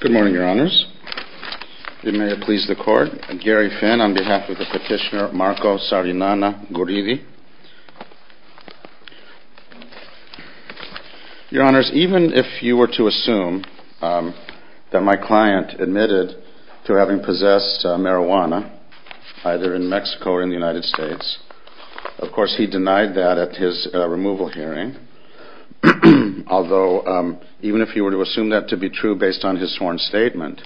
Good morning, Your Honors. It may please the Court, Gary Finn on behalf of the petitioner Marco Sarinana Guridi. Your Honors, even if you were to assume that my client admitted to having possessed marijuana, either in Mexico or in the United States, of course he denied that at his removal hearing, although even if you were to assume that to be true based on his sworn statement,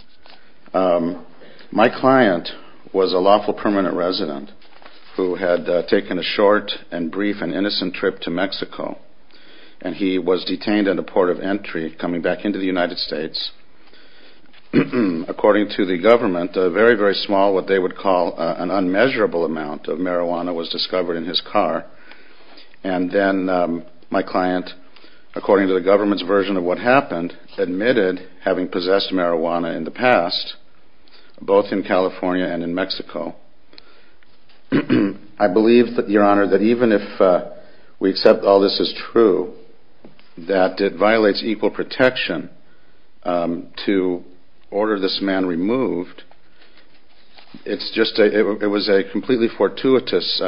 my client was a lawful permanent resident who had taken a short and brief and innocent trip to Mexico and he was detained at a port of entry coming back into the United States. According to the government, a very, very small, what they would call an unmeasurable amount of marijuana was discovered in his car. And then my client, according to the government's version of what happened, admitted having possessed marijuana in the past, both in California and in Mexico. I believe, Your Honor, that even if we accept all this is true, that it violates equal protection to order this man removed. It was a completely fortuitous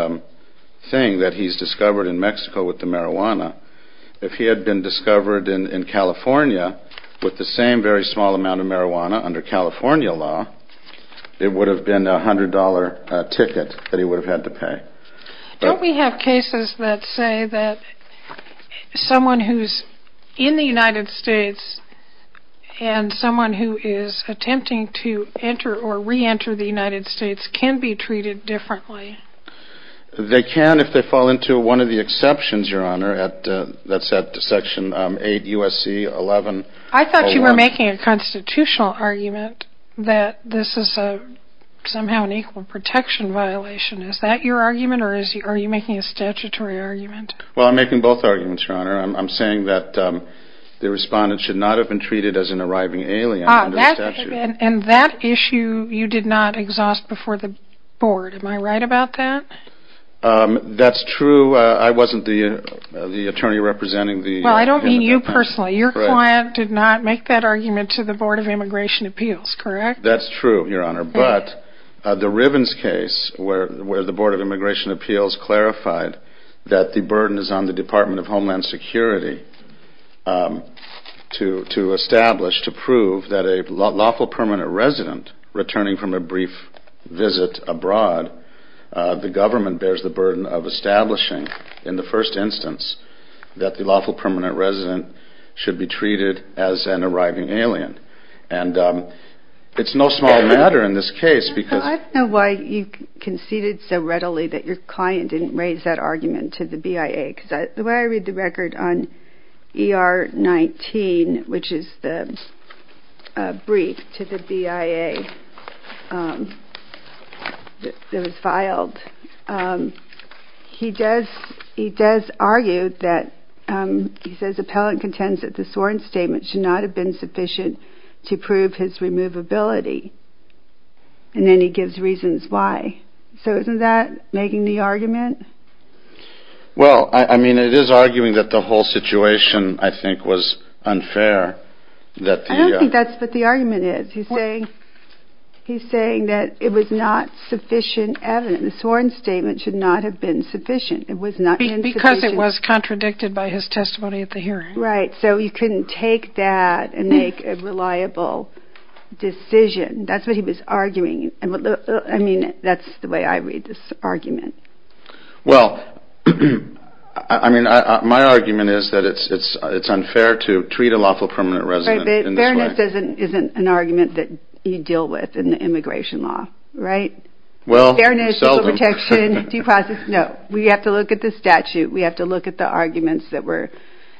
thing that he's discovered in Mexico with the marijuana. If he had been discovered in California with the same very small amount of marijuana under California law, it would have been a $100 ticket that he would have had to pay. Don't we have cases that say that someone who's in the United States and someone who is attempting to enter or re-enter the United States can be treated differently? They can if they fall into one of the exceptions, Your Honor, that's at Section 8 U.S.C. 11-01. I thought you were making a constitutional argument that this is somehow an equal protection violation. Is that your argument or are you making a statutory argument? Well, I'm making both arguments, Your Honor. I'm saying that the respondent should not have been treated as an arriving alien under the statute. And that issue you did not exhaust before the board. Am I right about that? That's true. I wasn't the attorney representing the defendant. Well, I don't mean you personally. Your client did not make that argument to the Board of Immigration Appeals, correct? That's true, Your Honor. But the Rivens case where the Board of Immigration Appeals clarified that the burden is on the Department of Homeland Security to establish, to prove that a lawful permanent resident returning from a brief visit abroad, the government bears the burden of establishing in the first instance that the lawful permanent resident should be treated as an arriving alien. And it's no small matter in this case because... Well, I don't know why you conceded so readily that your client didn't raise that argument to the BIA. Because the way I read the record on ER-19, which is the brief to the BIA that was filed, he does argue that, he says, the appellant contends that the sworn statement should not have been sufficient to prove his removability. And then he gives reasons why. So isn't that making the argument? Well, I mean, it is arguing that the whole situation I think was unfair. I don't think that's what the argument is. He's saying that it was not sufficient evidence. The sworn statement should not have been sufficient. Because it was contradicted by his testimony at the hearing. Right, so he couldn't take that and make a reliable decision. That's what he was arguing. I mean, that's the way I read this argument. Well, I mean, my argument is that it's unfair to treat a lawful permanent resident in this way. Fairness isn't an argument that you deal with in the immigration law, right? Well, seldom. Fairness, legal protection, due process. No, we have to look at the statute. We have to look at the arguments that were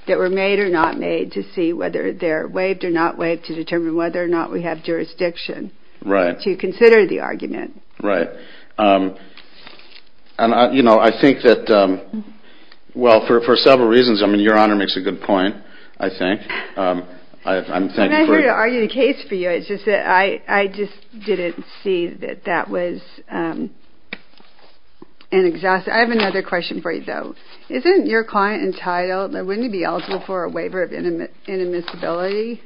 made or not made to see whether they're waived or not waived, to determine whether or not we have jurisdiction to consider the argument. Right. And, you know, I think that, well, for several reasons, I mean, Your Honor makes a good point, I think. I'm not here to argue the case for you. It's just that I just didn't see that that was an exhaustion. I have another question for you, though. Isn't your client entitled or wouldn't he be eligible for a waiver of inadmissibility?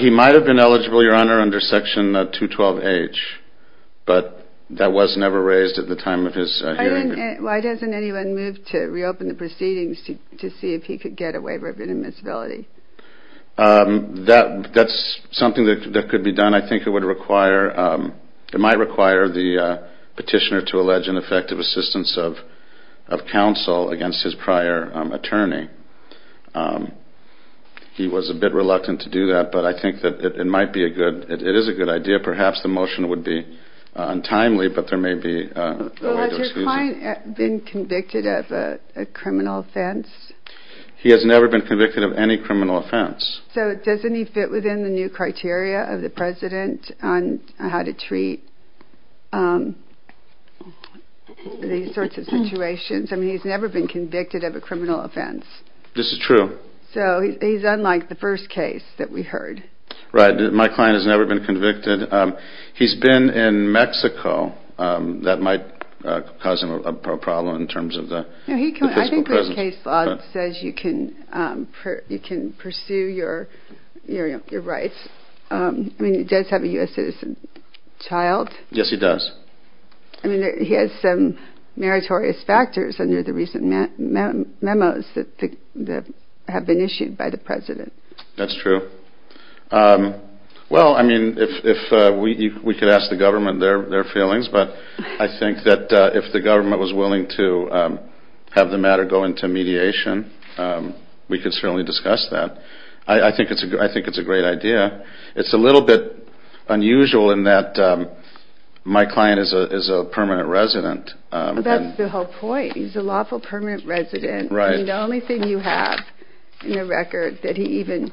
He might have been eligible, Your Honor, under Section 212H, but that was never raised at the time of his hearing. Why doesn't anyone move to reopen the proceedings to see if he could get a waiver of inadmissibility? That's something that could be done. I think it might require the petitioner to allege ineffective assistance of counsel against his prior attorney. He was a bit reluctant to do that, but I think that it is a good idea. Perhaps the motion would be untimely, but there may be a way to excuse it. Has your client been convicted of a criminal offense? He has never been convicted of any criminal offense. So doesn't he fit within the new criteria of the president on how to treat these sorts of situations? I mean, he's never been convicted of a criminal offense. This is true. So he's unlike the first case that we heard. Right. My client has never been convicted. He's been in Mexico. That might cause him a problem in terms of the physical presence. The first case law says you can pursue your rights. I mean, he does have a U.S. citizen child. Yes, he does. I mean, he has some meritorious factors under the recent memos that have been issued by the president. That's true. Well, I mean, if we could ask the government their feelings, but I think that if the government was willing to have the matter go into mediation, we could certainly discuss that. I think it's a great idea. It's a little bit unusual in that my client is a permanent resident. That's the whole point. He's a lawful permanent resident. Right. The only thing you have in the record that he even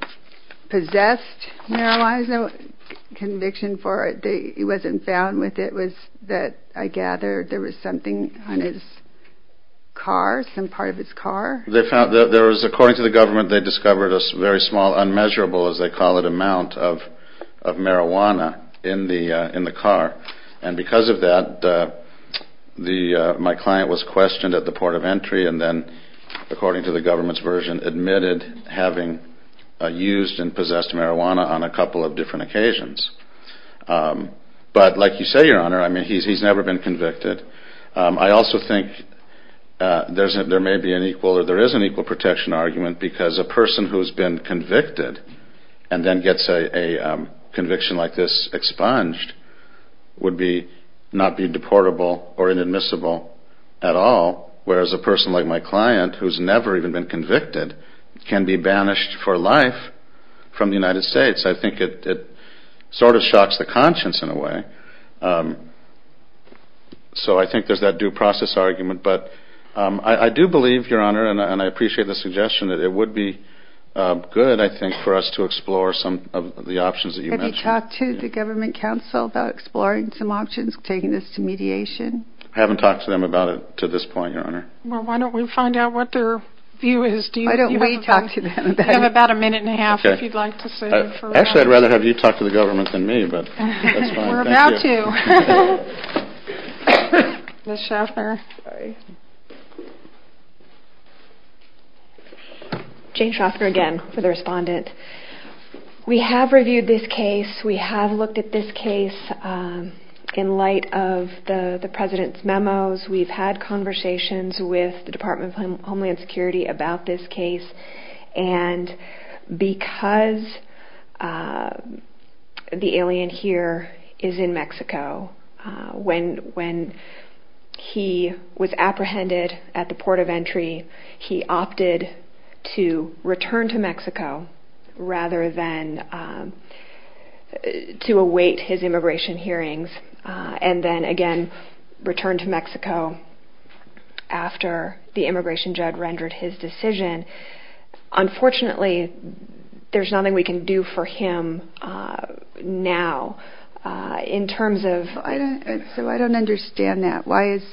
possessed marijuana, no conviction for it, he wasn't found with it, was that I gathered there was something on his car, some part of his car. According to the government, they discovered a very small, unmeasurable, as they call it, amount of marijuana in the car. And because of that, my client was questioned at the port of entry and then, according to the government's version, admitted having used and possessed marijuana on a couple of different occasions. But like you say, Your Honor, I mean, he's never been convicted. I also think there may be an equal or there is an equal protection argument because a person who has been convicted and then gets a conviction like this expunged would not be deportable or inadmissible at all, whereas a person like my client who's never even been convicted can be banished for life from the United States. I think it sort of shocks the conscience in a way. So I think there's that due process argument. But I do believe, Your Honor, and I appreciate the suggestion that it would be good, I think, for us to explore some of the options that you mentioned. Have you talked to the government counsel about exploring some options, taking this to mediation? I haven't talked to them about it to this point, Your Honor. Well, why don't we find out what their view is? Why don't we talk to them about it? You have about a minute and a half if you'd like to say a few words. Actually, I'd rather have you talk to the government than me, but that's fine. We're about to. Ms. Shostker. Jane Shostker again for the respondent. We have reviewed this case. We have looked at this case in light of the President's memos. We've had conversations with the Department of Homeland Security about this case. And because the alien here is in Mexico, when he was apprehended at the port of entry, he opted to return to Mexico rather than to await his immigration hearings and then again return to Mexico after the immigration judge rendered his decision. Unfortunately, there's nothing we can do for him now in terms of... So I don't understand that. Why is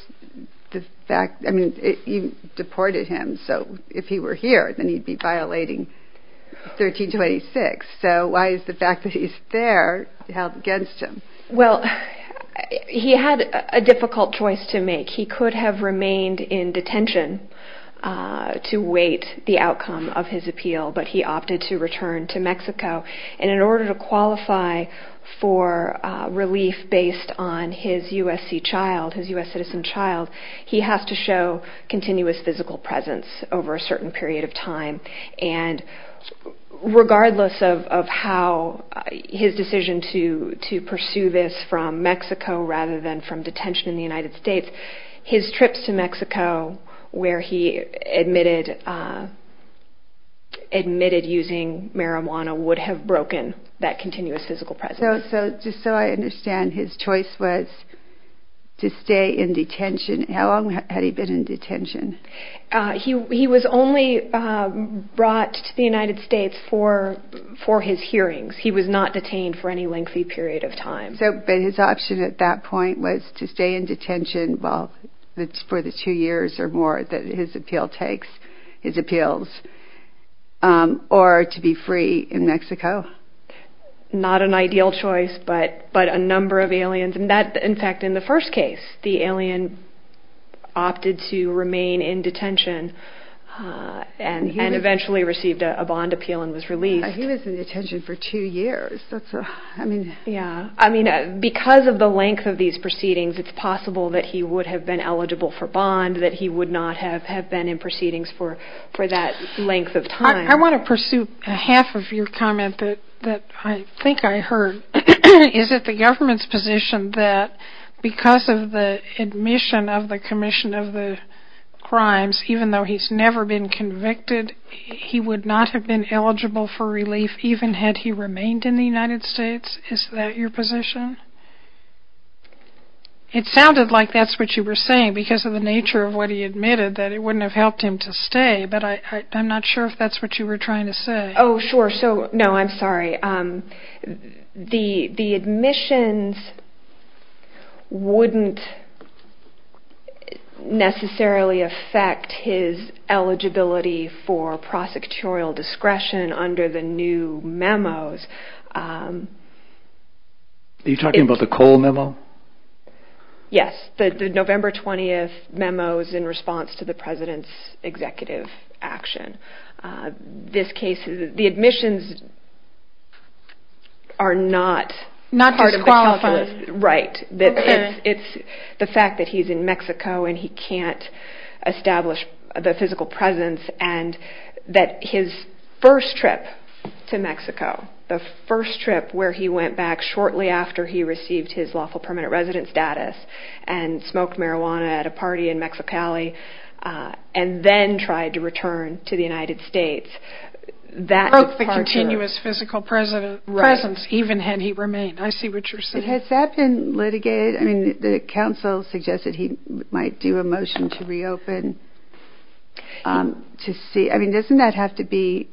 the fact... I mean, you deported him. So if he were here, then he'd be violating 1326. So why is the fact that he's there held against him? Well, he had a difficult choice to make. He could have remained in detention to wait the outcome of his appeal, but he opted to return to Mexico. And in order to qualify for relief based on his USC child, his U.S. citizen child, he has to show continuous physical presence over a certain period of time. And regardless of how his decision to pursue this from Mexico rather than from detention in the United States, his trips to Mexico where he admitted using marijuana would have broken that continuous physical presence. So just so I understand, his choice was to stay in detention. How long had he been in detention? He was only brought to the United States for his hearings. He was not detained for any lengthy period of time. So his option at that point was to stay in detention for the two years or more that his appeal takes, his appeals, or to be free in Mexico? Not an ideal choice, but a number of aliens. In fact, in the first case, the alien opted to remain in detention and eventually received a bond appeal and was released. He was in detention for two years. Because of the length of these proceedings, it's possible that he would have been eligible for bond, that he would not have been in proceedings for that length of time. I want to pursue half of your comment that I think I heard. Is it the government's position that because of the admission of the commission of the crimes, even though he's never been convicted, he would not have been eligible for relief even had he remained in the United States? Is that your position? It sounded like that's what you were saying because of the nature of what he admitted, that it wouldn't have helped him to stay, but I'm not sure if that's what you were trying to say. Oh, sure. No, I'm sorry. The admissions wouldn't necessarily affect his eligibility for prosecutorial discretion under the new memos. Are you talking about the Cole memo? Yes, the November 20th memos in response to the president's executive action. The admissions are not disqualifying. It's the fact that he's in Mexico and he can't establish the physical presence and that his first trip to Mexico, the first trip where he went back shortly after he received his lawful permanent residence status and smoked marijuana at a party in Mexicali and then tried to return to the United States. He broke the continuous physical presence even had he remained. I see what you're saying. Has that been litigated? The counsel suggested he might do a motion to reopen. Doesn't that have to be...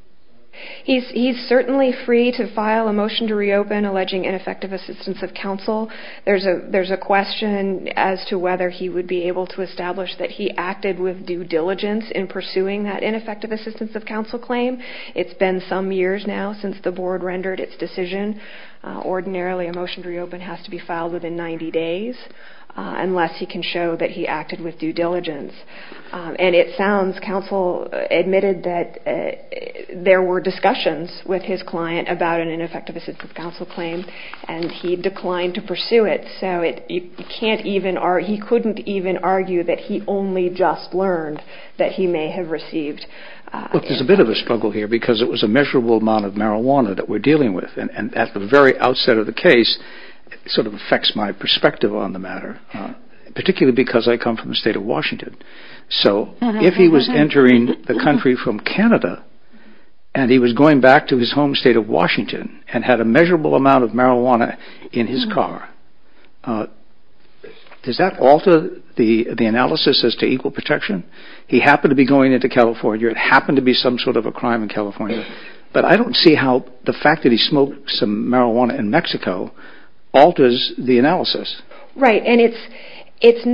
He's certainly free to file a motion to reopen alleging ineffective assistance of counsel. There's a question as to whether he would be able to establish that he acted with due diligence in pursuing that ineffective assistance of counsel claim. It's been some years now since the board rendered its decision. Ordinarily, a motion to reopen has to be filed within 90 days unless he can show that he acted with due diligence. And it sounds counsel admitted that there were discussions with his client about an ineffective assistance of counsel claim and he declined to pursue it. So he couldn't even argue that he only just learned that he may have received... Look, there's a bit of a struggle here because it was a measurable amount of marijuana that we're dealing with. And at the very outset of the case, it sort of affects my perspective on the matter, particularly because I come from the state of Washington. So if he was entering the country from Canada and he was going back to his home state of Washington and had a measurable amount of marijuana in his car, does that alter the analysis as to equal protection? He happened to be going into California. It happened to be some sort of a crime in California. But I don't see how the fact that he smoked some marijuana in Mexico alters the analysis. Right, and it's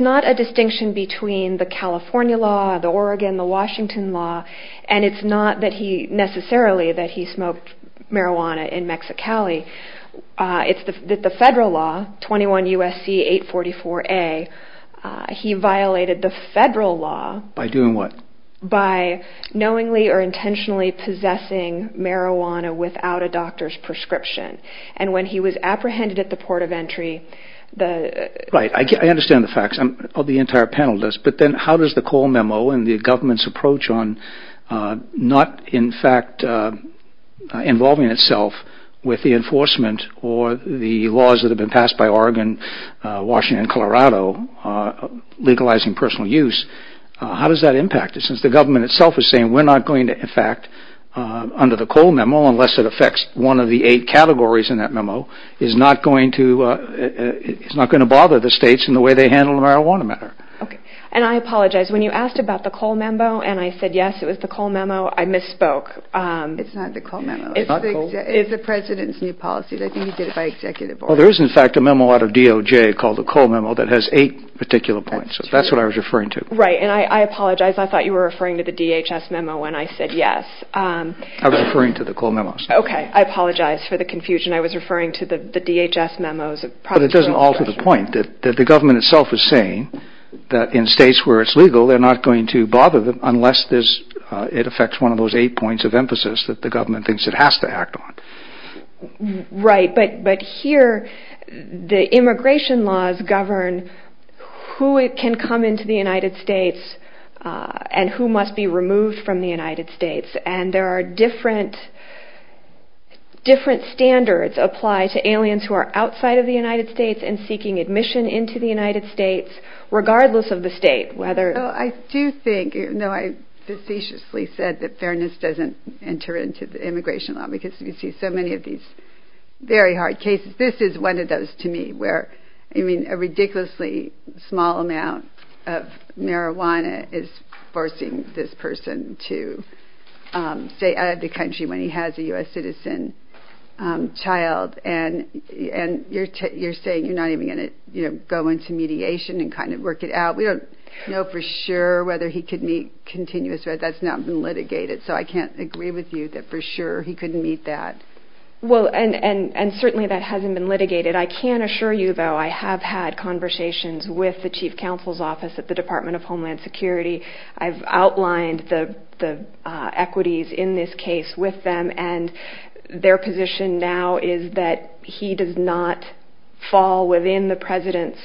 not a distinction between the California law, the Oregon, the Washington law, and it's not that he necessarily that he smoked marijuana in Mexicali. It's that the federal law, 21 U.S.C. 844A, he violated the federal law... By doing what? By knowingly or intentionally possessing marijuana without a doctor's prescription. And when he was apprehended at the port of entry, the... Right, I understand the facts of the entire panel, but then how does the Cole Memo and the government's approach on not, in fact, involving itself with the enforcement or the laws that have been passed by Oregon, Washington, and Colorado, legalizing personal use, how does that impact it? Since the government itself is saying we're not going to, in fact, under the Cole Memo, unless it affects one of the eight categories in that memo, is not going to bother the states in the way they handle the marijuana matter. Okay, and I apologize. When you asked about the Cole Memo and I said yes, it was the Cole Memo, I misspoke. It's not the Cole Memo. It's not Cole? It's the president's new policy. I think he did it by executive order. Well, there is, in fact, a memo out of DOJ called the Cole Memo that has eight particular points. That's true. So that's what I was referring to. Right, and I apologize. I thought you were referring to the DHS memo when I said yes. I was referring to the Cole Memo. Okay, I apologize for the confusion. I was referring to the DHS memos. It doesn't alter the point that the government itself is saying that in states where it's legal, they're not going to bother them unless it affects one of those eight points of emphasis that the government thinks it has to act on. Right, but here the immigration laws govern who can come into the United States and who must be removed from the United States. And there are different standards applied to aliens who are outside of the United States and seeking admission into the United States regardless of the state. I do think, though I facetiously said that fairness doesn't enter into the immigration law because you see so many of these very hard cases. This is one of those to me where, I mean, say out of the country when he has a U.S. citizen child and you're saying you're not even going to go into mediation and kind of work it out. We don't know for sure whether he could meet continuous. That's not been litigated, so I can't agree with you that for sure he couldn't meet that. Well, and certainly that hasn't been litigated. I can assure you, though, I have had conversations with the chief counsel's office at the Department of Homeland Security. I've outlined the equities in this case with them, and their position now is that he does not fall within the president's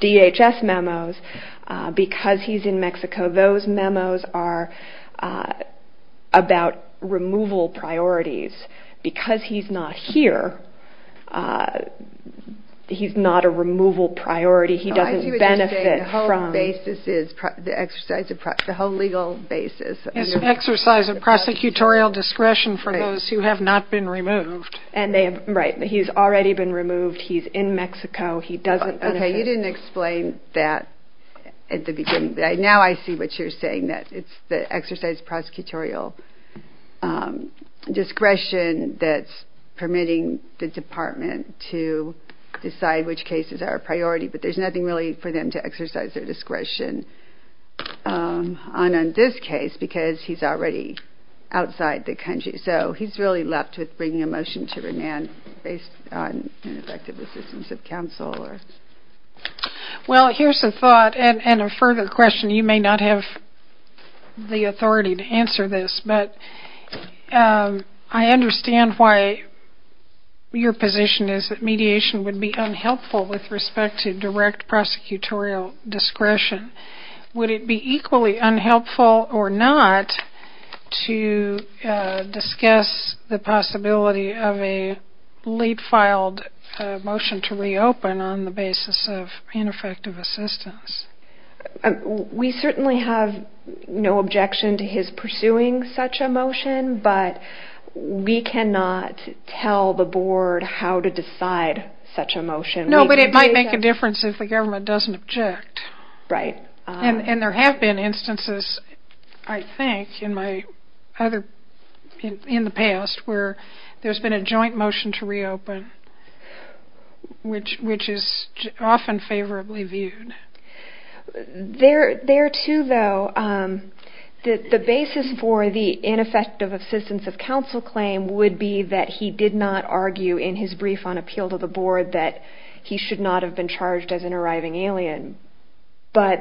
DHS memos because he's in Mexico. Those memos are about removal priorities. Because he's not here, he's not a removal priority. I see what you're saying. The whole legal basis is the exercise of prosecutorial discretion for those who have not been removed. Right. He's already been removed. He's in Mexico. He doesn't benefit. Okay. You didn't explain that at the beginning. Now I see what you're saying, that it's the exercise of prosecutorial discretion that's permitting the department to decide which cases are a priority, but there's nothing really for them to exercise their discretion on in this case because he's already outside the country. So he's really left with bringing a motion to remand based on ineffective assistance of counsel. Well, here's a thought and a further question. You may not have the authority to answer this, but I understand why your position is that mediation would be unhelpful with respect to direct prosecutorial discretion. Would it be equally unhelpful or not to discuss the possibility of a late-filed motion to reopen on the basis of ineffective assistance? We certainly have no objection to his pursuing such a motion, but we cannot tell the board how to decide such a motion. No, but it might make a difference if the government doesn't object. Right. And there have been instances, I think, in the past where there's been a joint motion to reopen, which is often favorably viewed. There, too, though, the basis for the ineffective assistance of counsel claim would be that he did not argue in his brief on appeal to the board that he should not have been charged as an arriving alien, but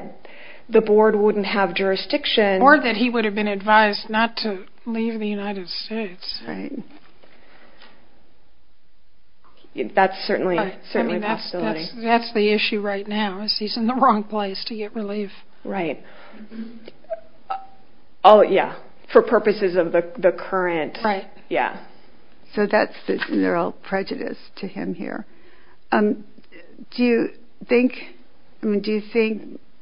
the board wouldn't have jurisdiction. Or that he would have been advised not to leave the United States. Right. That's certainly a possibility. I mean, that's the issue right now is he's in the wrong place to get relief. Right. Oh, yeah, for purposes of the current. Right. Yeah. So that's the general prejudice to him here. Do you think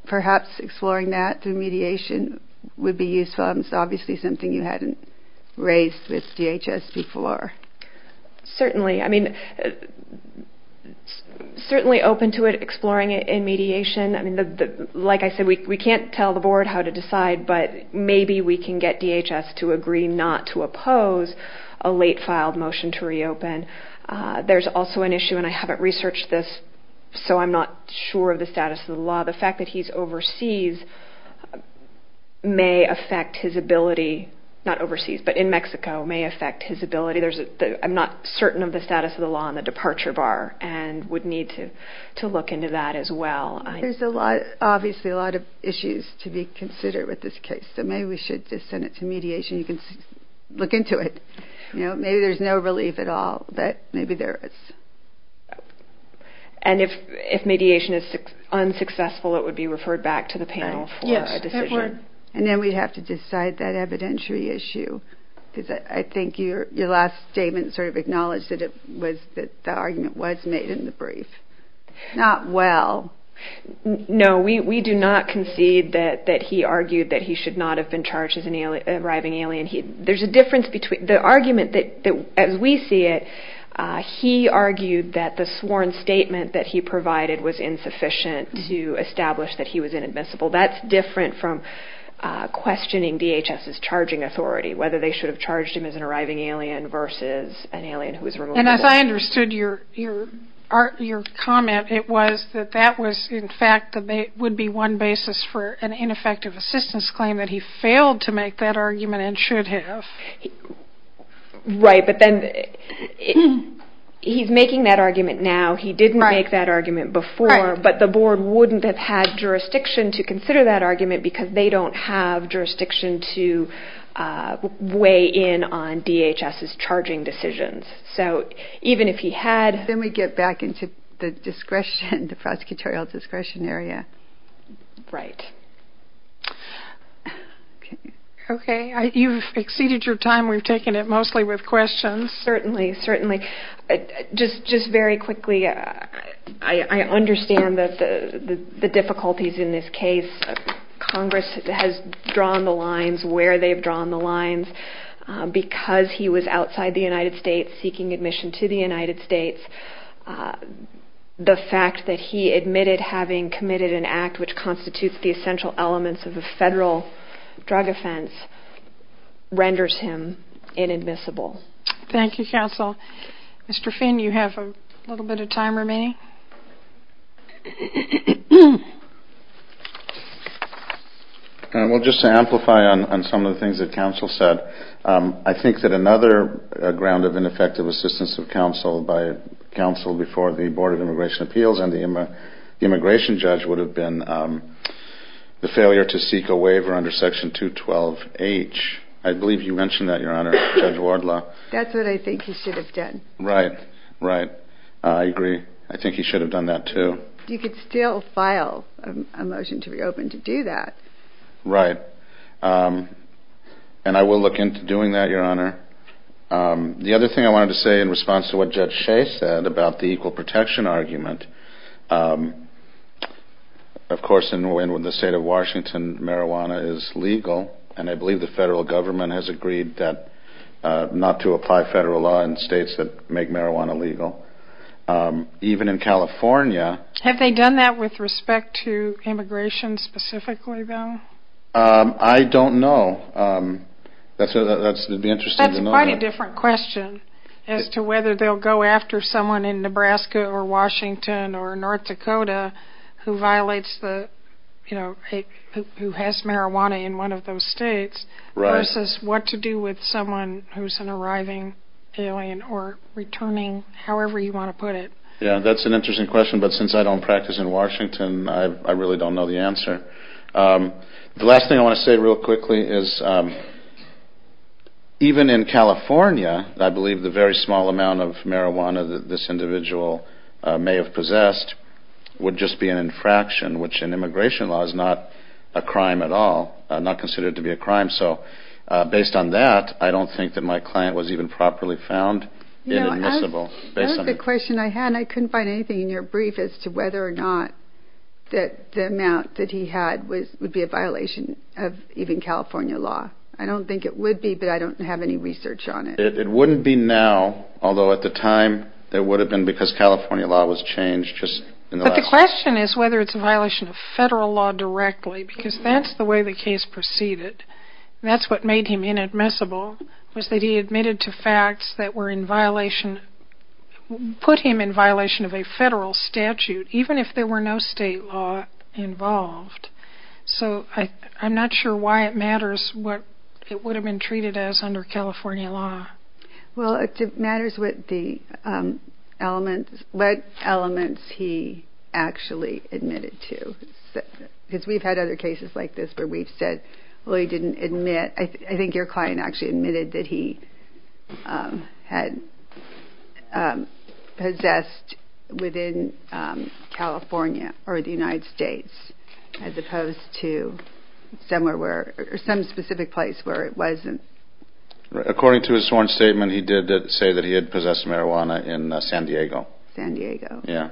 perhaps exploring that through mediation would be useful? It's obviously something you hadn't raised with DHS before. Certainly. I mean, certainly open to it, exploring it in mediation. Like I said, we can't tell the board how to decide, but maybe we can get DHS to agree not to oppose a late-filed motion to reopen. There's also an issue, and I haven't researched this, so I'm not sure of the status of the law. The fact that he's overseas may affect his ability, not overseas, but in Mexico may affect his ability. I'm not certain of the status of the law on the departure bar and would need to look into that as well. There's obviously a lot of issues to be considered with this case, so maybe we should just send it to mediation. You can look into it. Maybe there's no relief at all, but maybe there is. And if mediation is unsuccessful, it would be referred back to the panel for a decision. And then we'd have to decide that evidentiary issue. I think your last statement sort of acknowledged that the argument was made in the brief. Not well. No, we do not concede that he argued that he should not have been charged as an arriving alien. There's a difference between the argument that, as we see it, he argued that the sworn statement that he provided was insufficient to establish that he was inadmissible. That's different from questioning DHS's charging authority, whether they should have charged him as an arriving alien versus an alien who was removed. And as I understood your comment, it was that that was in fact would be one basis for an ineffective assistance claim that he failed to make that argument and should have. Right, but then he's making that argument now. He didn't make that argument before, but the board wouldn't have had jurisdiction to consider that argument because they don't have jurisdiction to weigh in on DHS's charging decisions. So even if he had... Then we get back into the prosecutorial discretion area. Right. Okay, you've exceeded your time. We've taken it mostly with questions. Certainly, certainly. Just very quickly, I understand the difficulties in this case. Congress has drawn the lines where they've drawn the lines. Because he was outside the United States seeking admission to the United States, the fact that he admitted having committed an act which constitutes the essential elements of a federal drug offense renders him inadmissible. Thank you, counsel. Mr. Finn, you have a little bit of time remaining. Well, just to amplify on some of the things that counsel said, I think that another ground of ineffective assistance of counsel by counsel before the Board of Immigration Appeals and the immigration judge would have been the failure to seek a waiver under Section 212H. I believe you mentioned that, Your Honor, Judge Wardlaw. That's what I think he should have done. Right, right. I agree. I think he should have done that, too. You could still file a motion to reopen to do that. Right. And I will look into doing that, Your Honor. The other thing I wanted to say in response to what Judge Shea said about the equal protection argument, of course, in the state of Washington, marijuana is legal, and I believe the federal government has agreed not to apply federal law in states that make marijuana legal. Even in California. Have they done that with respect to immigration specifically, though? I don't know. That would be interesting to know. That's quite a different question as to whether they'll go after someone in Nebraska or Washington or North Dakota who has marijuana in one of those states versus what to do with someone who's an arriving alien or returning, however you want to put it. Yeah, that's an interesting question, but since I don't practice in Washington, I really don't know the answer. The last thing I want to say real quickly is even in California, I believe the very small amount of marijuana that this individual may have possessed would just be an infraction, which in immigration law is not a crime at all, not considered to be a crime. So based on that, I don't think that my client was even properly found inadmissible. That was the question I had, and I couldn't find anything in your brief as to whether or not the amount that he had would be a violation of even California law. I don't think it would be, but I don't have any research on it. It wouldn't be now, although at the time, it would have been because California law was changed just in the last year. But the question is whether it's a violation of federal law directly, because that's the way the case proceeded. That's what made him inadmissible, was that he admitted to facts that were in violation, put him in violation of a federal statute, even if there were no state law involved. So I'm not sure why it matters what it would have been treated as under California law. Well, it matters what elements he actually admitted to, because we've had other cases like this where we've said, well, he didn't admit. I think your client actually admitted that he had possessed within California or the United States, as opposed to some specific place where it wasn't. According to his sworn statement, he did say that he had possessed marijuana in San Diego. San Diego. Yeah.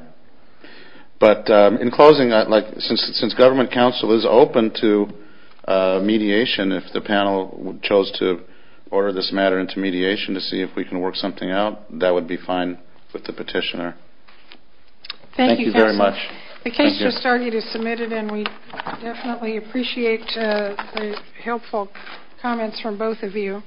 But in closing, since government counsel is open to mediation, if the panel chose to order this matter into mediation to see if we can work something out, that would be fine with the petitioner. Thank you very much. Thank you, counsel. The case just started. It's submitted, and we definitely appreciate the helpful comments from both of you.